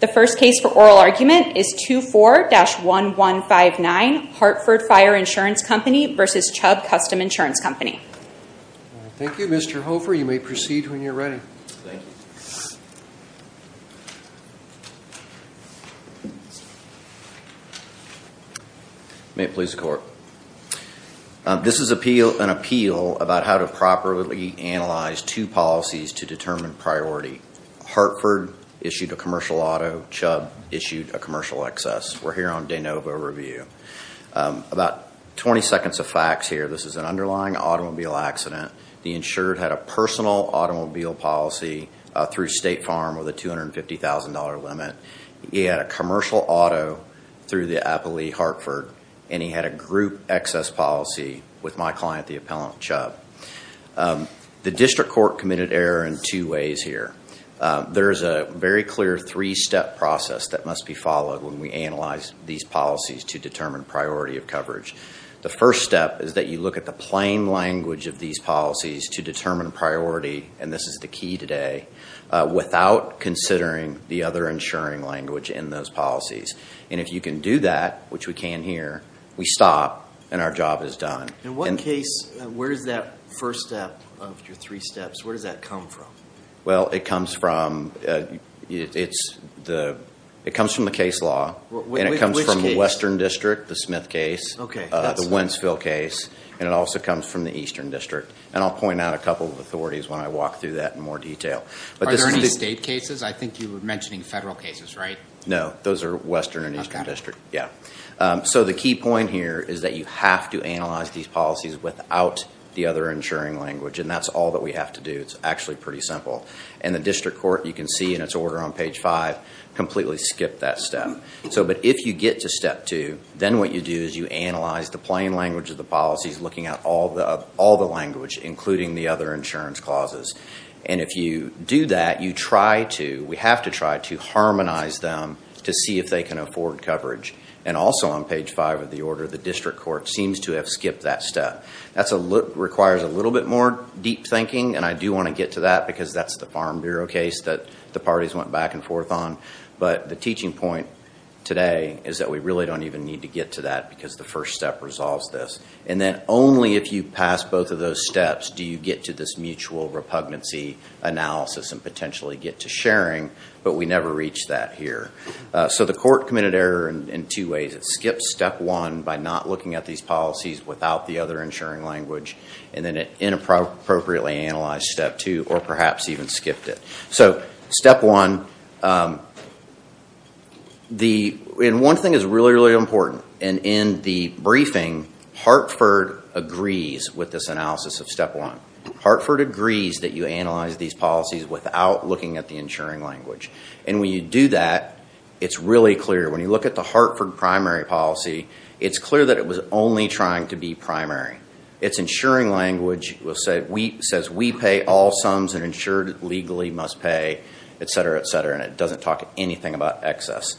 The first case for oral argument is 24-1159 Hartford Fire Insurance Company v. Chubb Custom Insurance Company Thank you, Mr. Hofer. You may proceed when you're ready May it please the court This is an appeal about how to properly analyze two policies to determine priority Hartford issued a commercial auto, Chubb issued a commercial excess. We're here on de novo review About 20 seconds of facts here. This is an underlying automobile accident. The insured had a personal automobile policy Through State Farm with a $250,000 limit. He had a commercial auto Through the Appley Hartford and he had a group excess policy with my client the appellant Chubb The district court committed error in two ways here There is a very clear three-step process that must be followed when we analyze these policies to determine priority of coverage The first step is that you look at the plain language of these policies to determine priority and this is the key today Without considering the other insuring language in those policies And if you can do that, which we can here we stop and our job is done in one case Where's that first step of your three steps? Where does that come from? Well, it comes from It's the it comes from the case law and it comes from the Western District the Smith case Okay The Wentzville case and it also comes from the Eastern District and I'll point out a couple of authorities when I walk through that in More detail, but this is the state cases. I think you were mentioning federal cases, right? No, those are Western and Eastern District. Yeah So the key point here is that you have to analyze these policies without the other insuring language And that's all that we have to do It's actually pretty simple and the district court you can see in its order on page five completely skip that step so but if you get to step two Then what you do is you analyze the plain language of the policies looking at all the all the language Including the other insurance clauses and if you do that you try to we have to try to Harmonize them to see if they can afford coverage and also on page five of the order The district court seems to have skipped that step that's a look requires a little bit more deep thinking and I do want to get to that because that's the Farm Bureau case that The parties went back and forth on but the teaching point Today is that we really don't even need to get to that because the first step resolves this and then only if you pass both Of those steps. Do you get to this mutual repugnancy? Analysis and potentially get to sharing but we never reach that here So the court committed error in two ways it skips step one by not looking at these policies without the other insuring language And then it inappropriately analyzed step two or perhaps even skipped it. So step one The in one thing is really really important and in the briefing Hartford agrees with this analysis of step one Hartford agrees that you analyze these policies without looking at the insuring language and when you do that It's really clear when you look at the Hartford primary policy. It's clear that it was only trying to be primary It's insuring language will say we says we pay all sums and insured legally must pay Etc, etc, and it doesn't talk anything about excess.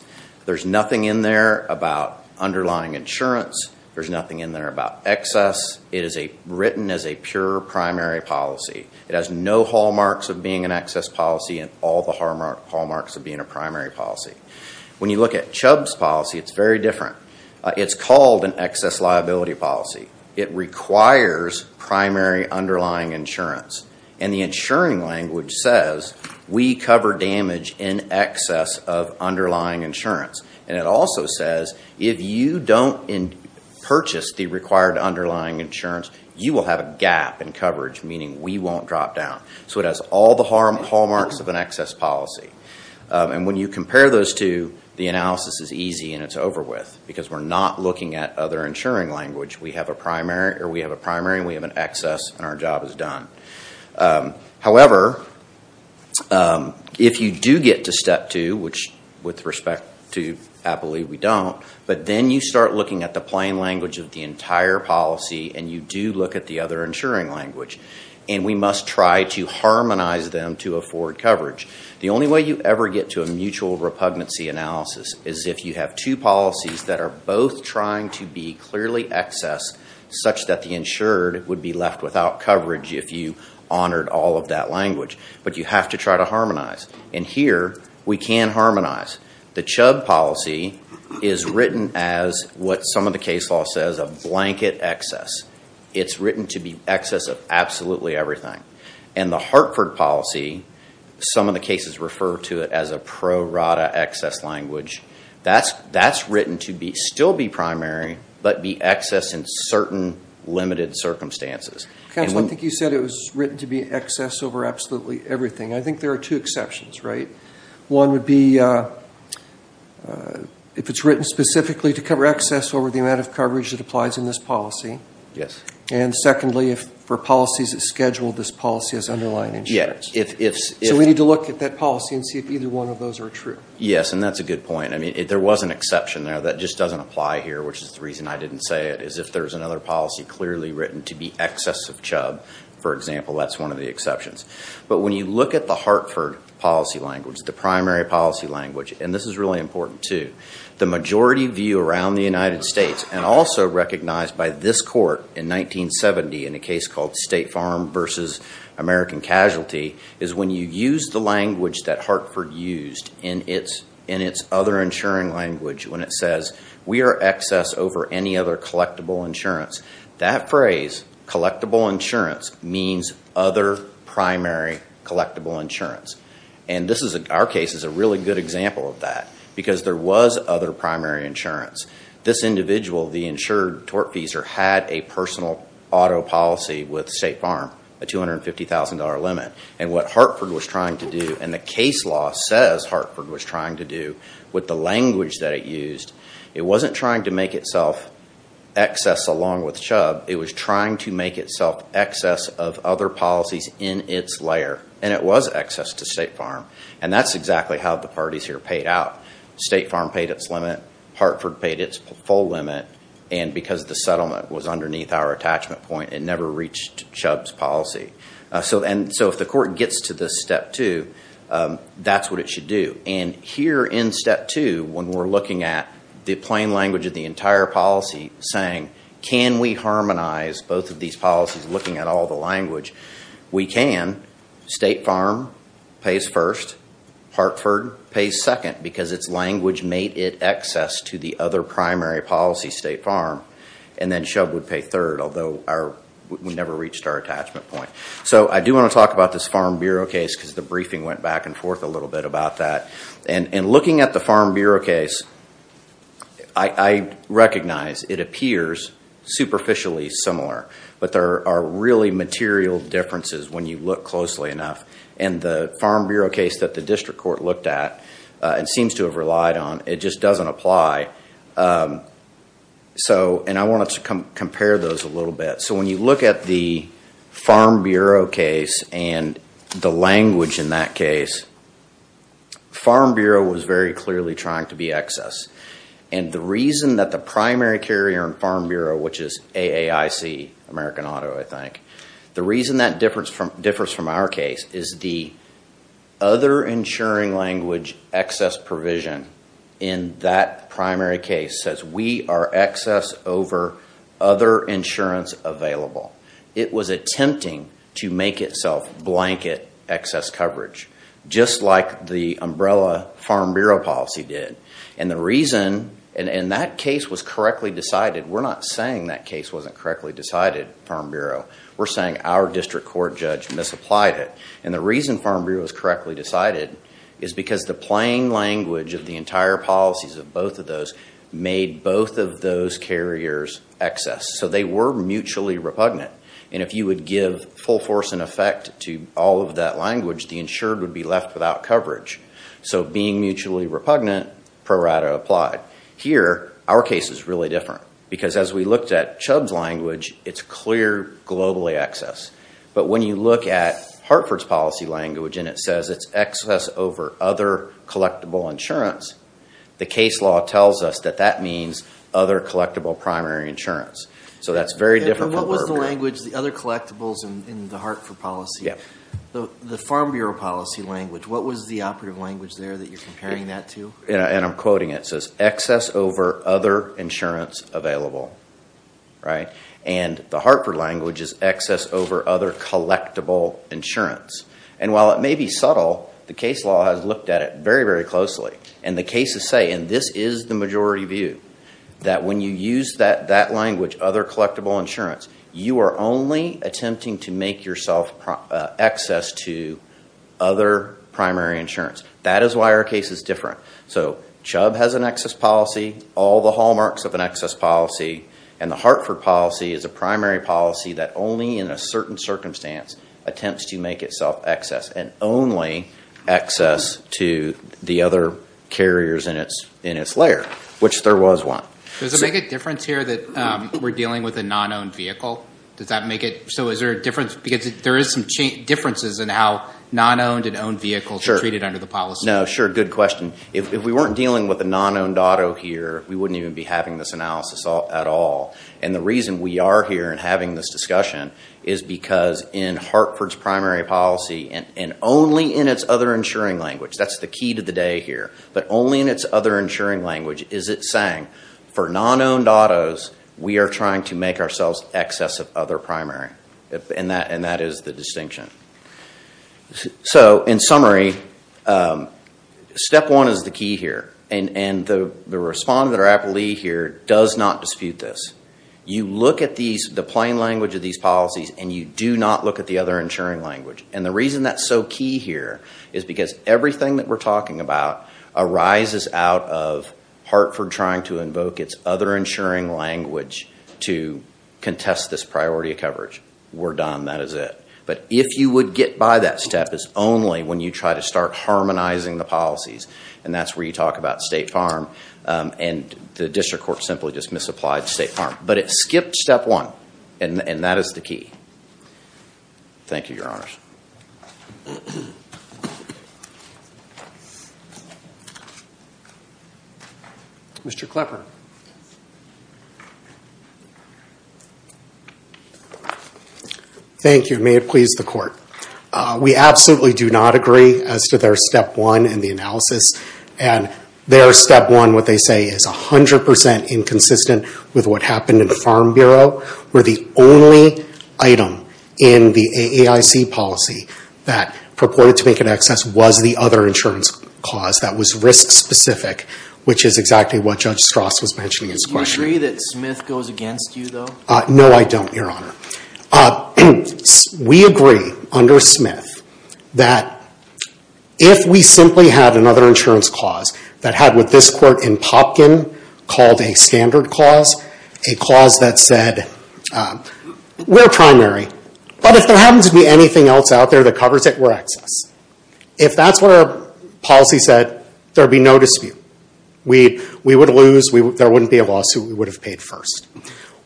There's nothing in there about underlying insurance There's nothing in there about excess. It is a written as a pure primary policy It has no hallmarks of being an excess policy and all the hallmarks of being a primary policy When you look at Chubb's policy, it's very different. It's called an excess liability policy. It requires primary underlying insurance and the insuring language says we cover damage in excess of Underlying insurance and it also says if you don't in Purchase the required underlying insurance you will have a gap in coverage meaning we won't drop down So it has all the harm hallmarks of an excess policy And when you compare those to the analysis is easy and it's over with because we're not looking at other insuring language We have a primary or we have a primary we have an excess and our job is done however If you do get to step two which with respect to happily we don't but then you start looking at the plain language of the entire policy and you do look at the other insuring language and we must Try to harmonize them to afford coverage The only way you ever get to a mutual repugnancy analysis is if you have two policies that are both trying to be clearly Excess such that the insured would be left without coverage if you honored all of that language But you have to try to harmonize and here we can harmonize the Chubb policy is Written as what some of the case law says a blanket excess It's written to be excess of absolutely everything and the Hartford policy Some of the cases refer to it as a pro rata excess language That's that's written to be still be primary, but be excess in certain limited circumstances I think you said it was written to be excess over absolutely everything. I think there are two exceptions right one would be If it's written specifically to cover excess over the amount of coverage that applies in this policy Yes And secondly if for policies that schedule this policy as underlying insurance If we need to look at that policy and see if either one of those are true, yes, and that's a good point I mean if there was an exception there that just doesn't apply here Which is the reason I didn't say it is if there's another policy clearly written to be excess of Chubb For example, that's one of the exceptions But when you look at the Hartford policy language the primary policy language and this is really important to the majority view around the United States and also recognized by this court in 1970 in a case called State Farm versus American casualty is when you use the language that Hartford used in its in its other Insuring language when it says we are excess over any other collectible insurance that phrase collectible insurance means other primary collectible insurance And this is a our case is a really good example of that because there was other primary insurance This individual the insured tortfeasor had a personal auto policy with State Farm a $250,000 limit and what Hartford was trying to do and the case law says Hartford was trying to do With the language that it used it wasn't trying to make itself Excess along with Chubb. It was trying to make itself excess of other policies in its layer And it was excess to State Farm and that's exactly how the parties here paid out State Farm paid its limit Hartford paid its full limit and because the settlement was underneath our attachment point it never reached Chubb's policy So and so if the court gets to this step two That's what it should do and here in step two when we're looking at the plain language of the entire policy saying Can we harmonize both of these policies looking at all the language we can? State Farm pays first Hartford pays second because its language made it excess to the other primary policy State Farm and then Chubb would pay third Although our we never reached our attachment point so I do want to talk about this Farm Bureau case because the briefing went back and forth a little bit about that and looking at the Farm Bureau case I Recognize it appears superficially similar But there are really material differences when you look closely enough and the Farm Bureau case that the district court looked at It seems to have relied on it just doesn't apply So and I wanted to come compare those a little bit so when you look at the Farm Bureau case and the language in that case Farm Bureau was very clearly trying to be excess and the reason that the primary carrier in Farm Bureau, which is a AIC American Auto, I think the reason that difference from difference from our case is the other insuring language excess provision in That primary case says we are excess over other Insurance available it was attempting to make itself blanket excess coverage Just like the umbrella Farm Bureau policy did and the reason and in that case was correctly decided We're not saying that case wasn't correctly decided Farm Bureau We're saying our district court judge misapplied it and the reason Farm Bureau was correctly decided is Because the playing language of the entire policies of both of those made both of those carriers excess so they were Mutually repugnant and if you would give full force and effect to all of that language the insured would be left without coverage So being mutually repugnant pro rata applied here our case is really different because as we looked at Chubb's language It's clear globally excess But when you look at Hartford's policy language, and it says it's excess over other collectible insurance The case law tells us that that means other collectible primary insurance, so that's very different What was the language the other collectibles in the Hartford policy? Yeah, the the Farm Bureau policy language? What was the operative language there that you're comparing that to yeah, and I'm quoting it says excess over other insurance available Right and the Hartford language is excess over other Collectible insurance and while it may be subtle the case law has looked at it very very closely and the cases say and this is The majority view that when you use that that language other collectible insurance you are only attempting to make yourself access to Other primary insurance that is why our case is different So Chubb has an excess policy all the hallmarks of an excess policy and the Hartford policy is a primary policy that only in a certain Circumstance attempts to make itself excess and only Access to the other carriers in its in its layer Which there was one does it make a difference here that we're dealing with a non-owned vehicle does that make it? So is there a difference because there is some differences in how non-owned and owned vehicles are treated under the policy No, sure. Good question If we weren't dealing with a non-owned auto here We wouldn't even be having this analysis at all and the reason we are here and having this discussion is Because in Hartford's primary policy and and only in its other insuring language, that's the key to the day here But only in its other insuring language. Is it saying for non-owned autos? We are trying to make ourselves excess of other primary if and that and that is the distinction so in summary Step one is the key here and and the the respond that are happily here does not dispute this You look at these the plain language of these policies and you do not look at the other insuring language and the reason that's so key here is because everything that we're talking about arises out of Hartford trying to invoke its other insuring language to Contest this priority of coverage. We're done. That is it But if you would get by that step is only when you try to start harmonizing the policies and that's where you talk about State Farm And the district court simply just misapplied State Farm, but it skipped step one and and that is the key Thank you, your honors Mr. Klepper Thank you, may it please the court we absolutely do not agree as to their step one in the analysis and Their step one what they say is a hundred percent inconsistent with what happened in the Farm Bureau We're the only Item in the AIC policy that purported to make an excess was the other insurance clause that was risk-specific Which is exactly what Judge Strauss was mentioning in his question. Do you agree that Smith goes against you though? No, I don't your honor We agree under Smith that If we simply had another insurance clause that had with this court in Popkin called a standard clause a clause that said We're primary, but if there happens to be anything else out there that covers it we're excess if that's where Policy said there'd be no dispute. We would lose, there wouldn't be a lawsuit, we would have paid first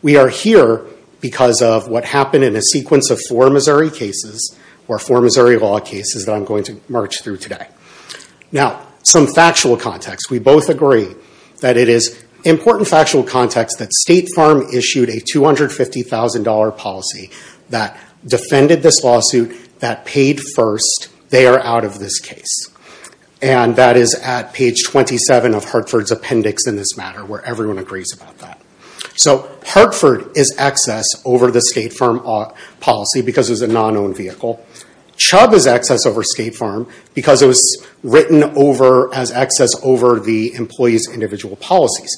We are here because of what happened in a sequence of four Missouri cases or four Missouri law cases that I'm going to march through today Now some factual context we both agree that it is important factual context that State Farm issued a $250,000 policy that defended this lawsuit that paid first they are out of this case And that is at page 27 of Hartford's appendix in this matter where everyone agrees about that So Hartford is excess over the State Farm policy because it was a non-owned vehicle Chubb is excess over State Farm because it was written over as excess over the employees individual policies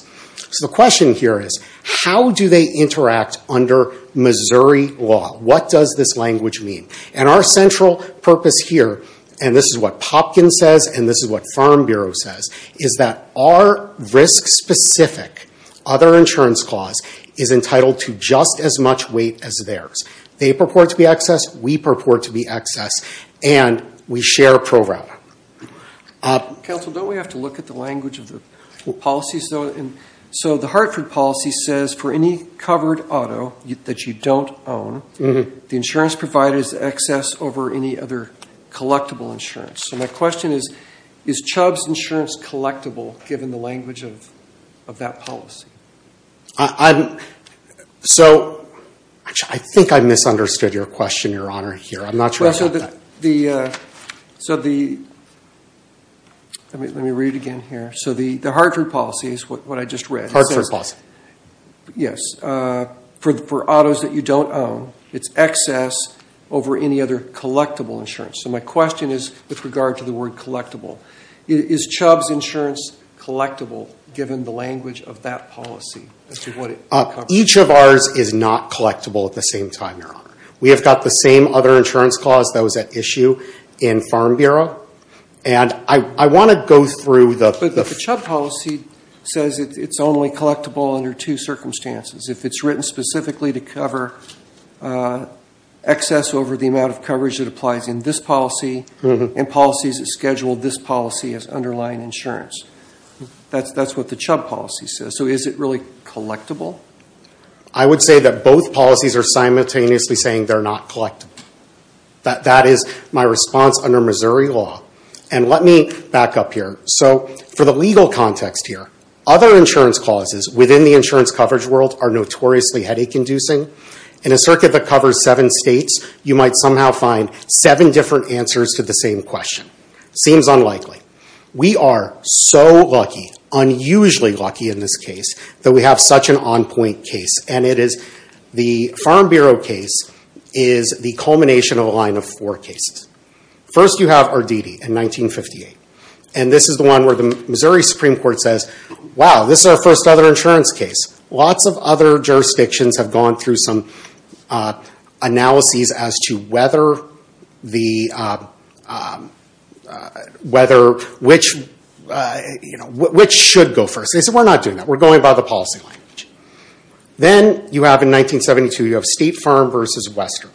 So the question here is how do they interact under? Missouri law, what does this language mean and our central purpose here? And this is what Popkin says and this is what Farm Bureau says is that our risk specific other insurance clause is Entitled to just as much weight as theirs they purport to be excess we purport to be excess and we share program Council don't we have to look at the language of the policies though So the Hartford policy says for any covered auto that you don't own The insurance provided is excess over any other Collectible insurance so my question is is Chubb's insurance collectible given the language of of that policy So I think I misunderstood your question your honor here, I'm not sure so that the so the I mean, let me read again here. So the the Hartford policy is what I just read Hartford boss Yes For the four autos that you don't own it's excess over any other collectible insurance So my question is with regard to the word collectible is Chubb's insurance Collectible given the language of that policy Each of ours is not collectible at the same time your honor We have got the same other insurance clause that was at issue in Farm Bureau And I I want to go through the Chubb policy says it's only collectible under two circumstances If it's written specifically to cover Excess over the amount of coverage that applies in this policy and policies that schedule this policy as underlying insurance That's that's what the Chubb policy says so is it really collectible? I? Would say that both policies are simultaneously saying they're not collectible That that is my response under Missouri law and let me back up here So for the legal context here other insurance clauses within the insurance coverage world are notoriously headache-inducing In a circuit that covers seven states you might somehow find seven different answers to the same question Seems unlikely we are so lucky Unusually lucky in this case that we have such an on-point case, and it is the Farm Bureau case is The culmination of a line of four cases first you have our DD in 1958 And this is the one where the Missouri Supreme Court says wow this is our first other insurance case lots of other jurisdictions have gone through some analyses as to whether the Whether which You know which should go first. They said we're not doing that we're going by the policy language Then you have in 1972 you have State Farm versus Western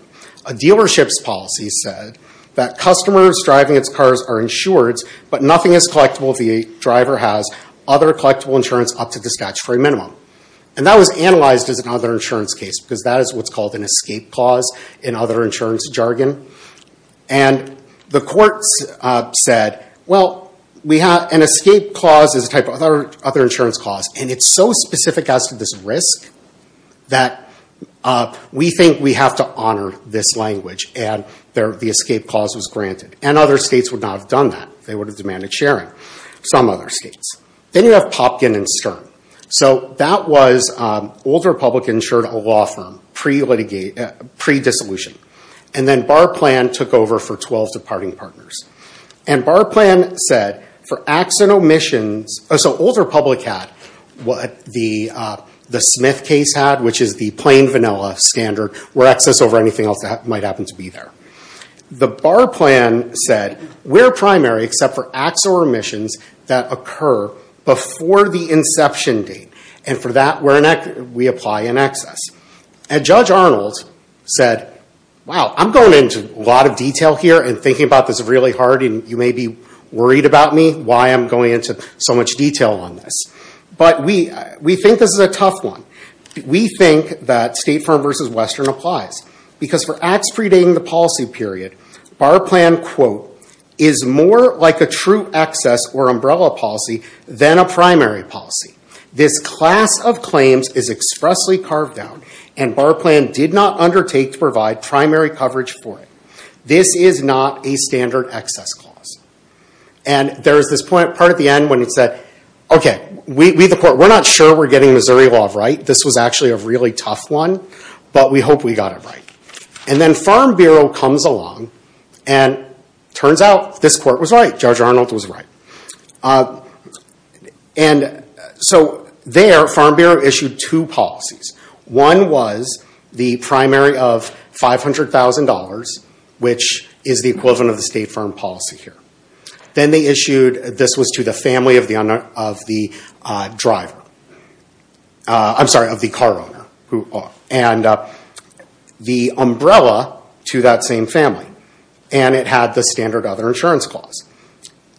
a Dealerships policy said that customers driving its cars are insured But nothing is collectible the driver has other collectible insurance up to the statutory minimum and that was analyzed as another insurance case because that is what's called an escape clause in other insurance jargon and the courts Said well we have an escape clause is a type of other other insurance clause, and it's so specific as to this risk that We think we have to honor this language and there the escape clause was granted and other states would not have done that they would Have demanded sharing some other states, then you have Popkin and Stern so that was Older public insured a law firm pre litigate Pre-dissolution, and then bar plan took over for 12 departing partners and bar plan said for acts and omissions so older public had what the The Smith case had which is the plain vanilla standard where excess over anything else that might happen to be there The bar plan said we're primary except for acts or omissions that occur Before the inception date and for that we're neck we apply an excess and judge Arnold said Wow, I'm going into a lot of detail here and thinking about this really hard and you may be worried about me Why I'm going into so much detail on this, but we we think this is a tough one We think that state firm versus Western applies because for acts predating the policy period our plan quote is More like a true excess or umbrella policy than a primary policy This class of claims is expressly carved down and bar plan did not undertake to provide primary coverage for it this is not a standard excess clause and There's this point part at the end when it said, okay, we the court. We're not sure we're getting Missouri law, right? this was actually a really tough one, but we hope we got it right and then Farm Bureau comes along and Turns out this court was right. Judge Arnold was right and So there Farm Bureau issued two policies. One was the primary of $500,000 which is the equivalent of the state firm policy here. Then they issued this was to the family of the owner of the driver I'm sorry of the car owner who and The umbrella to that same family and it had the standard other insurance clause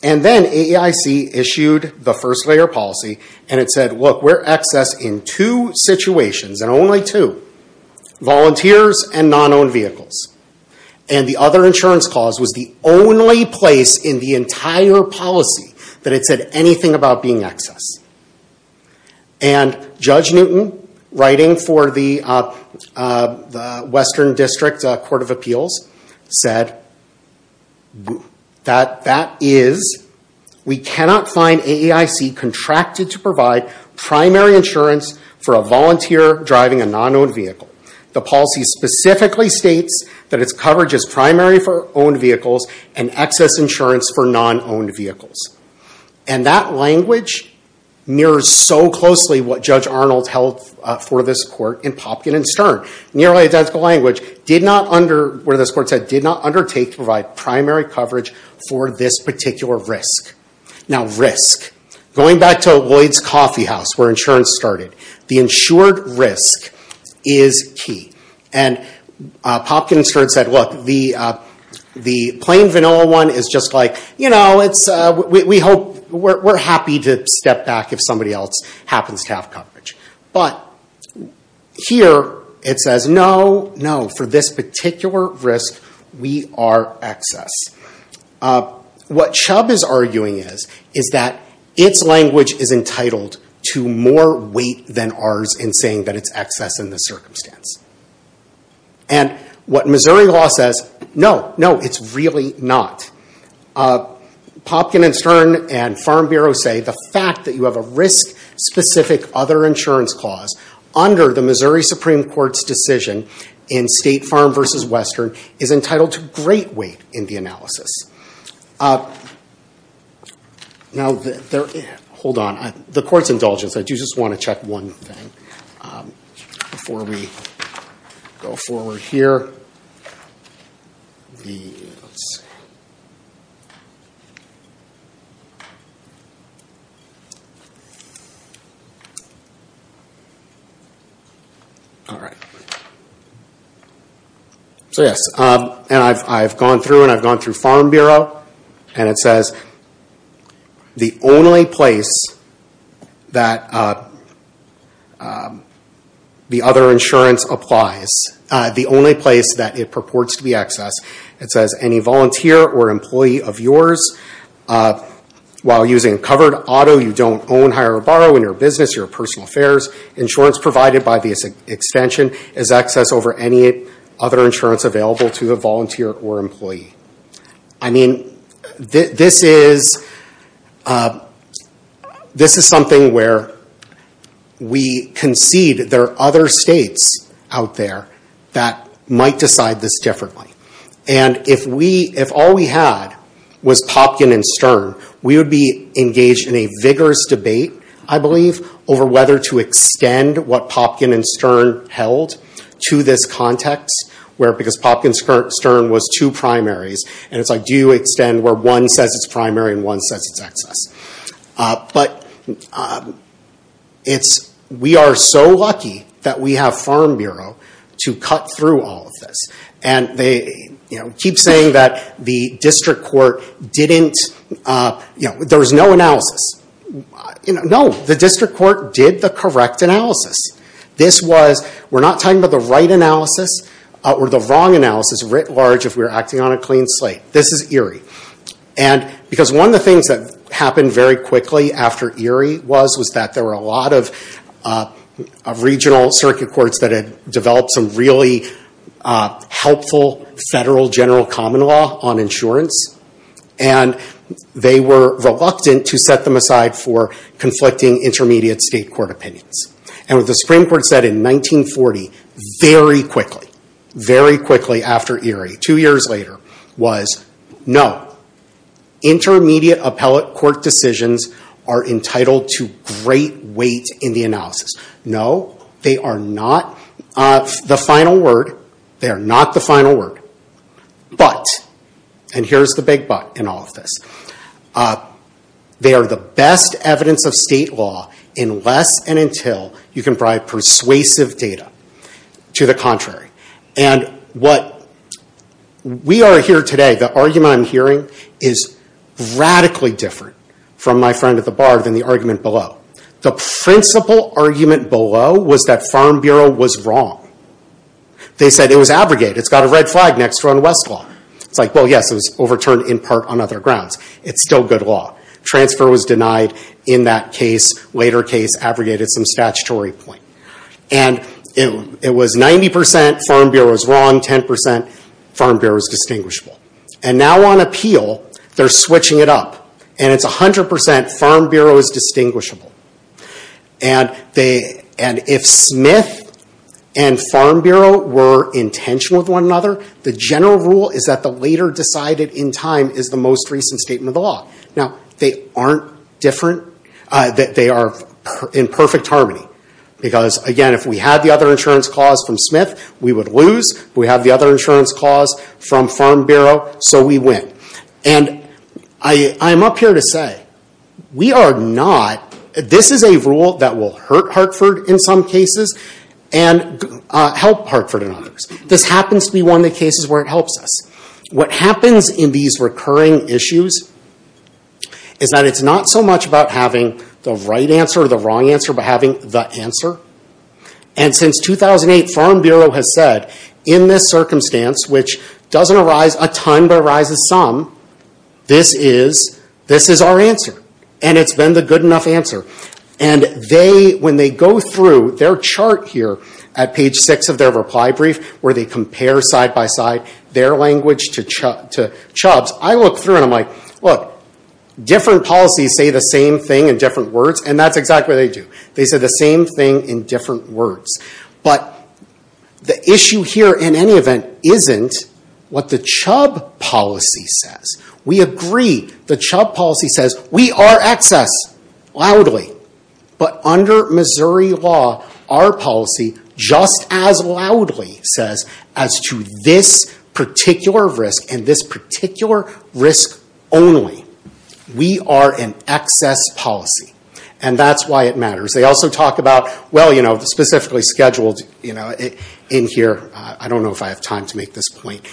and Then AEIC issued the first-layer policy and it said look we're excess in two situations and only two volunteers and non-owned vehicles and the other insurance clause was the only place in the entire policy that it said anything about being excess and Judge Newton writing for the Western District Court of Appeals said That that is We cannot find AEIC contracted to provide primary insurance for a volunteer driving a non-owned vehicle the policy specifically states that its coverage is primary for owned vehicles and excess insurance for non-owned vehicles and that language Mirrors so closely what Judge Arnold held for this court in Popkin and Stern nearly identical language Did not under where this court said did not undertake to provide primary coverage for this particular risk now risk going back to Lloyd's Coffeehouse where insurance started the insured risk is key and Popkins heard said look the The plain vanilla one is just like, you know, it's we hope we're happy to step back if somebody else happens to have coverage, but Here it says no no for this particular risk. We are excess what Chubb is arguing is is that its language is entitled to more weight than ours in saying that it's excess in the circumstance and What Missouri law says no, no, it's really not Popkin and Stern and Farm Bureau say the fact that you have a risk specific other insurance clause under the Missouri Supreme Court's decision in State Farm versus Western is entitled to great weight in the analysis Now there hold on the court's indulgence I do just want to check one thing Before we go forward here All right So yes, and I've gone through and I've gone through Farm Bureau and it says the only place that The other insurance applies the only place that it purports to be excess it says any volunteer or employee of yours While using a covered auto you don't own hire or borrow in your business your personal affairs insurance provided by the Extension is access over any other insurance available to a volunteer or employee. I mean this is This is something where We concede there are other states out there that might decide this differently and If we if all we had was Popkin and Stern we would be engaged in a vigorous debate I believe over whether to extend what Popkin and Stern held To this context where because Popkin Stern was two primaries And it's like do you extend where one says it's primary and one says it's excess but It's we are so lucky that we have Farm Bureau to cut through all of this And they you know keep saying that the district court didn't You know there was no analysis You know no the district court did the correct analysis This was we're not talking about the right analysis or the wrong analysis writ large if we were acting on a clean slate this is Erie and Because one of the things that happened very quickly after Erie was was that there were a lot of Regional circuit courts that had developed some really helpful federal general common law on insurance and They were reluctant to set them aside for conflicting intermediate state court opinions and with the Supreme Court said in 1940 very quickly very quickly after Erie two years later was no Intermediate appellate court decisions are entitled to great weight in the analysis. No they are not The final word they are not the final word But and here's the big but in all of this They are the best evidence of state law in less and until you can provide persuasive data to the contrary and what We are here today the argument, I'm hearing is Radically different from my friend at the bar than the argument below the principal argument below was that Farm Bureau was wrong They said it was abrogated. It's got a red flag next run Westlaw. It's like well. Yes It was overturned in part on other grounds It's still good law transfer was denied in that case later case abrogated some statutory point And it was 90% Farm Bureau was wrong 10% Farm Bureau is distinguishable and now on appeal they're switching it up, and it's a hundred percent Farm Bureau is distinguishable and they and if Smith and Farm Bureau were in tension with one another the general rule is that the later Decided in time is the most recent statement of the law now. They aren't different That they are in perfect harmony Because again if we had the other insurance clause from Smith, we would lose we have the other insurance clause from Farm Bureau so we win and I I'm up here to say we are not this is a rule that will hurt Hartford in some cases and Help Hartford in others this happens to be one of the cases where it helps us what happens in these recurring issues Is that it's not so much about having the right answer or the wrong answer, but having the answer and Since 2008 Farm Bureau has said in this circumstance, which doesn't arise a ton but arises some this is this is our answer, and it's been the good enough answer and They when they go through their chart here at page six of their reply brief where they compare side-by-side Their language to Chuck to Chubbs. I look through and I'm like look Different policies say the same thing in different words, and that's exactly they do they said the same thing in different words, but The issue here in any event isn't what the Chubb? Policy says we agree the Chubb policy says we are excess Loudly, but under Missouri law our policy just as loudly says as to this Particular risk and this particular risk only We are in excess policy, and that's why it matters. They also talk about well You know the specifically scheduled you know it in here. I don't know if I have time to make this point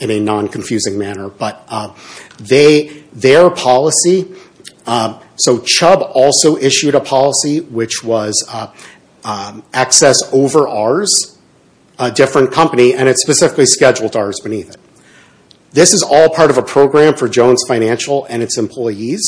in a non-confusing manner, but They their policy so Chubb also issued a policy which was Access over ours a Different company, and it's specifically scheduled ours beneath it this is all part of a program for Jones financial and its employees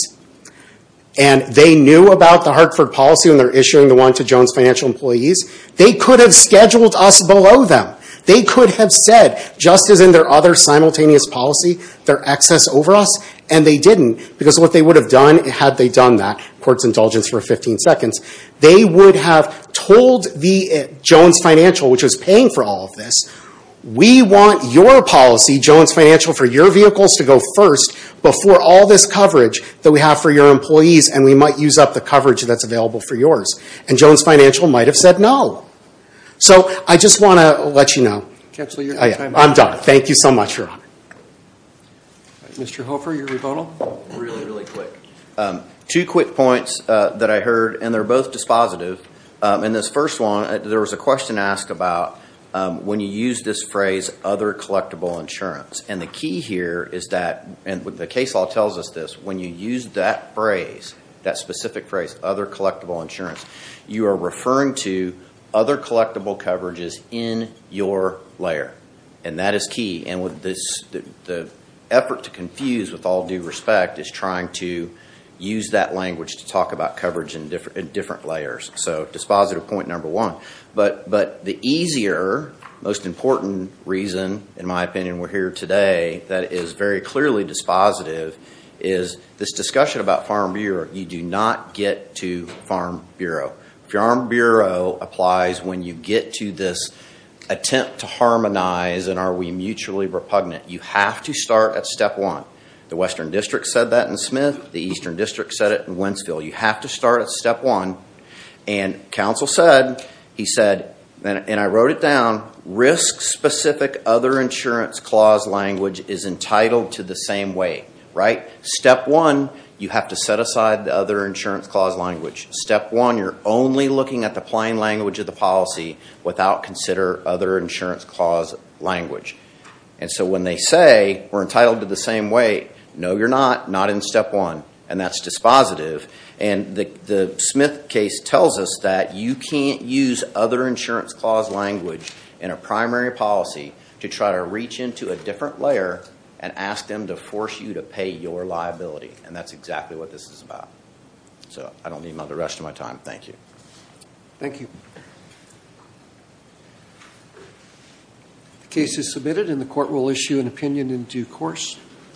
and They knew about the Hartford policy when they're issuing the one to Jones financial employees They could have scheduled us below them They could have said just as in their other simultaneous policy their excess over us And they didn't because what they would have done it had they done that courts indulgence for 15 seconds They would have told the Jones financial which was paying for all of this We want your policy Jones financial for your vehicles to go first Before all this coverage that we have for your employees And we might use up the coverage that's available for yours and Jones financial might have said no So I just want to let you know I'm done. Thank you so much Mr. Mr. Hofer your rebuttal Two quick points that I heard and they're both dispositive in this first one. There was a question asked about When you use this phrase other collectible insurance and the key here is that and with the case law tells us this when you use that Phrase that specific phrase other collectible insurance. You are referring to other The effort to confuse with all due respect is trying to Use that language to talk about coverage in different in different layers. So dispositive point number one, but but the easier Most important reason in my opinion. We're here today. That is very clearly dispositive is This discussion about Farm Bureau. You do not get to Farm Bureau Farm Bureau applies when you get to this Attempt to harmonize and are we mutually repugnant you have to start at step one The Western District said that in Smith the Eastern District said it in Wentzville. You have to start at step one and Council said he said and I wrote it down Risk specific other insurance clause language is entitled to the same way right step one You have to set aside the other insurance clause language step one You're only looking at the plain language of the policy without consider other insurance clause language And so when they say we're entitled to the same way No You're not not in step one and that's dispositive and the the Smith case tells us that you can't use other insurance clause language in a primary policy to try to reach into a different layer and Ask them to force you to pay your liability and that's exactly what this is about So, I don't need my the rest of my time, thank you, thank you The case is submitted in the court will issue an opinion in due course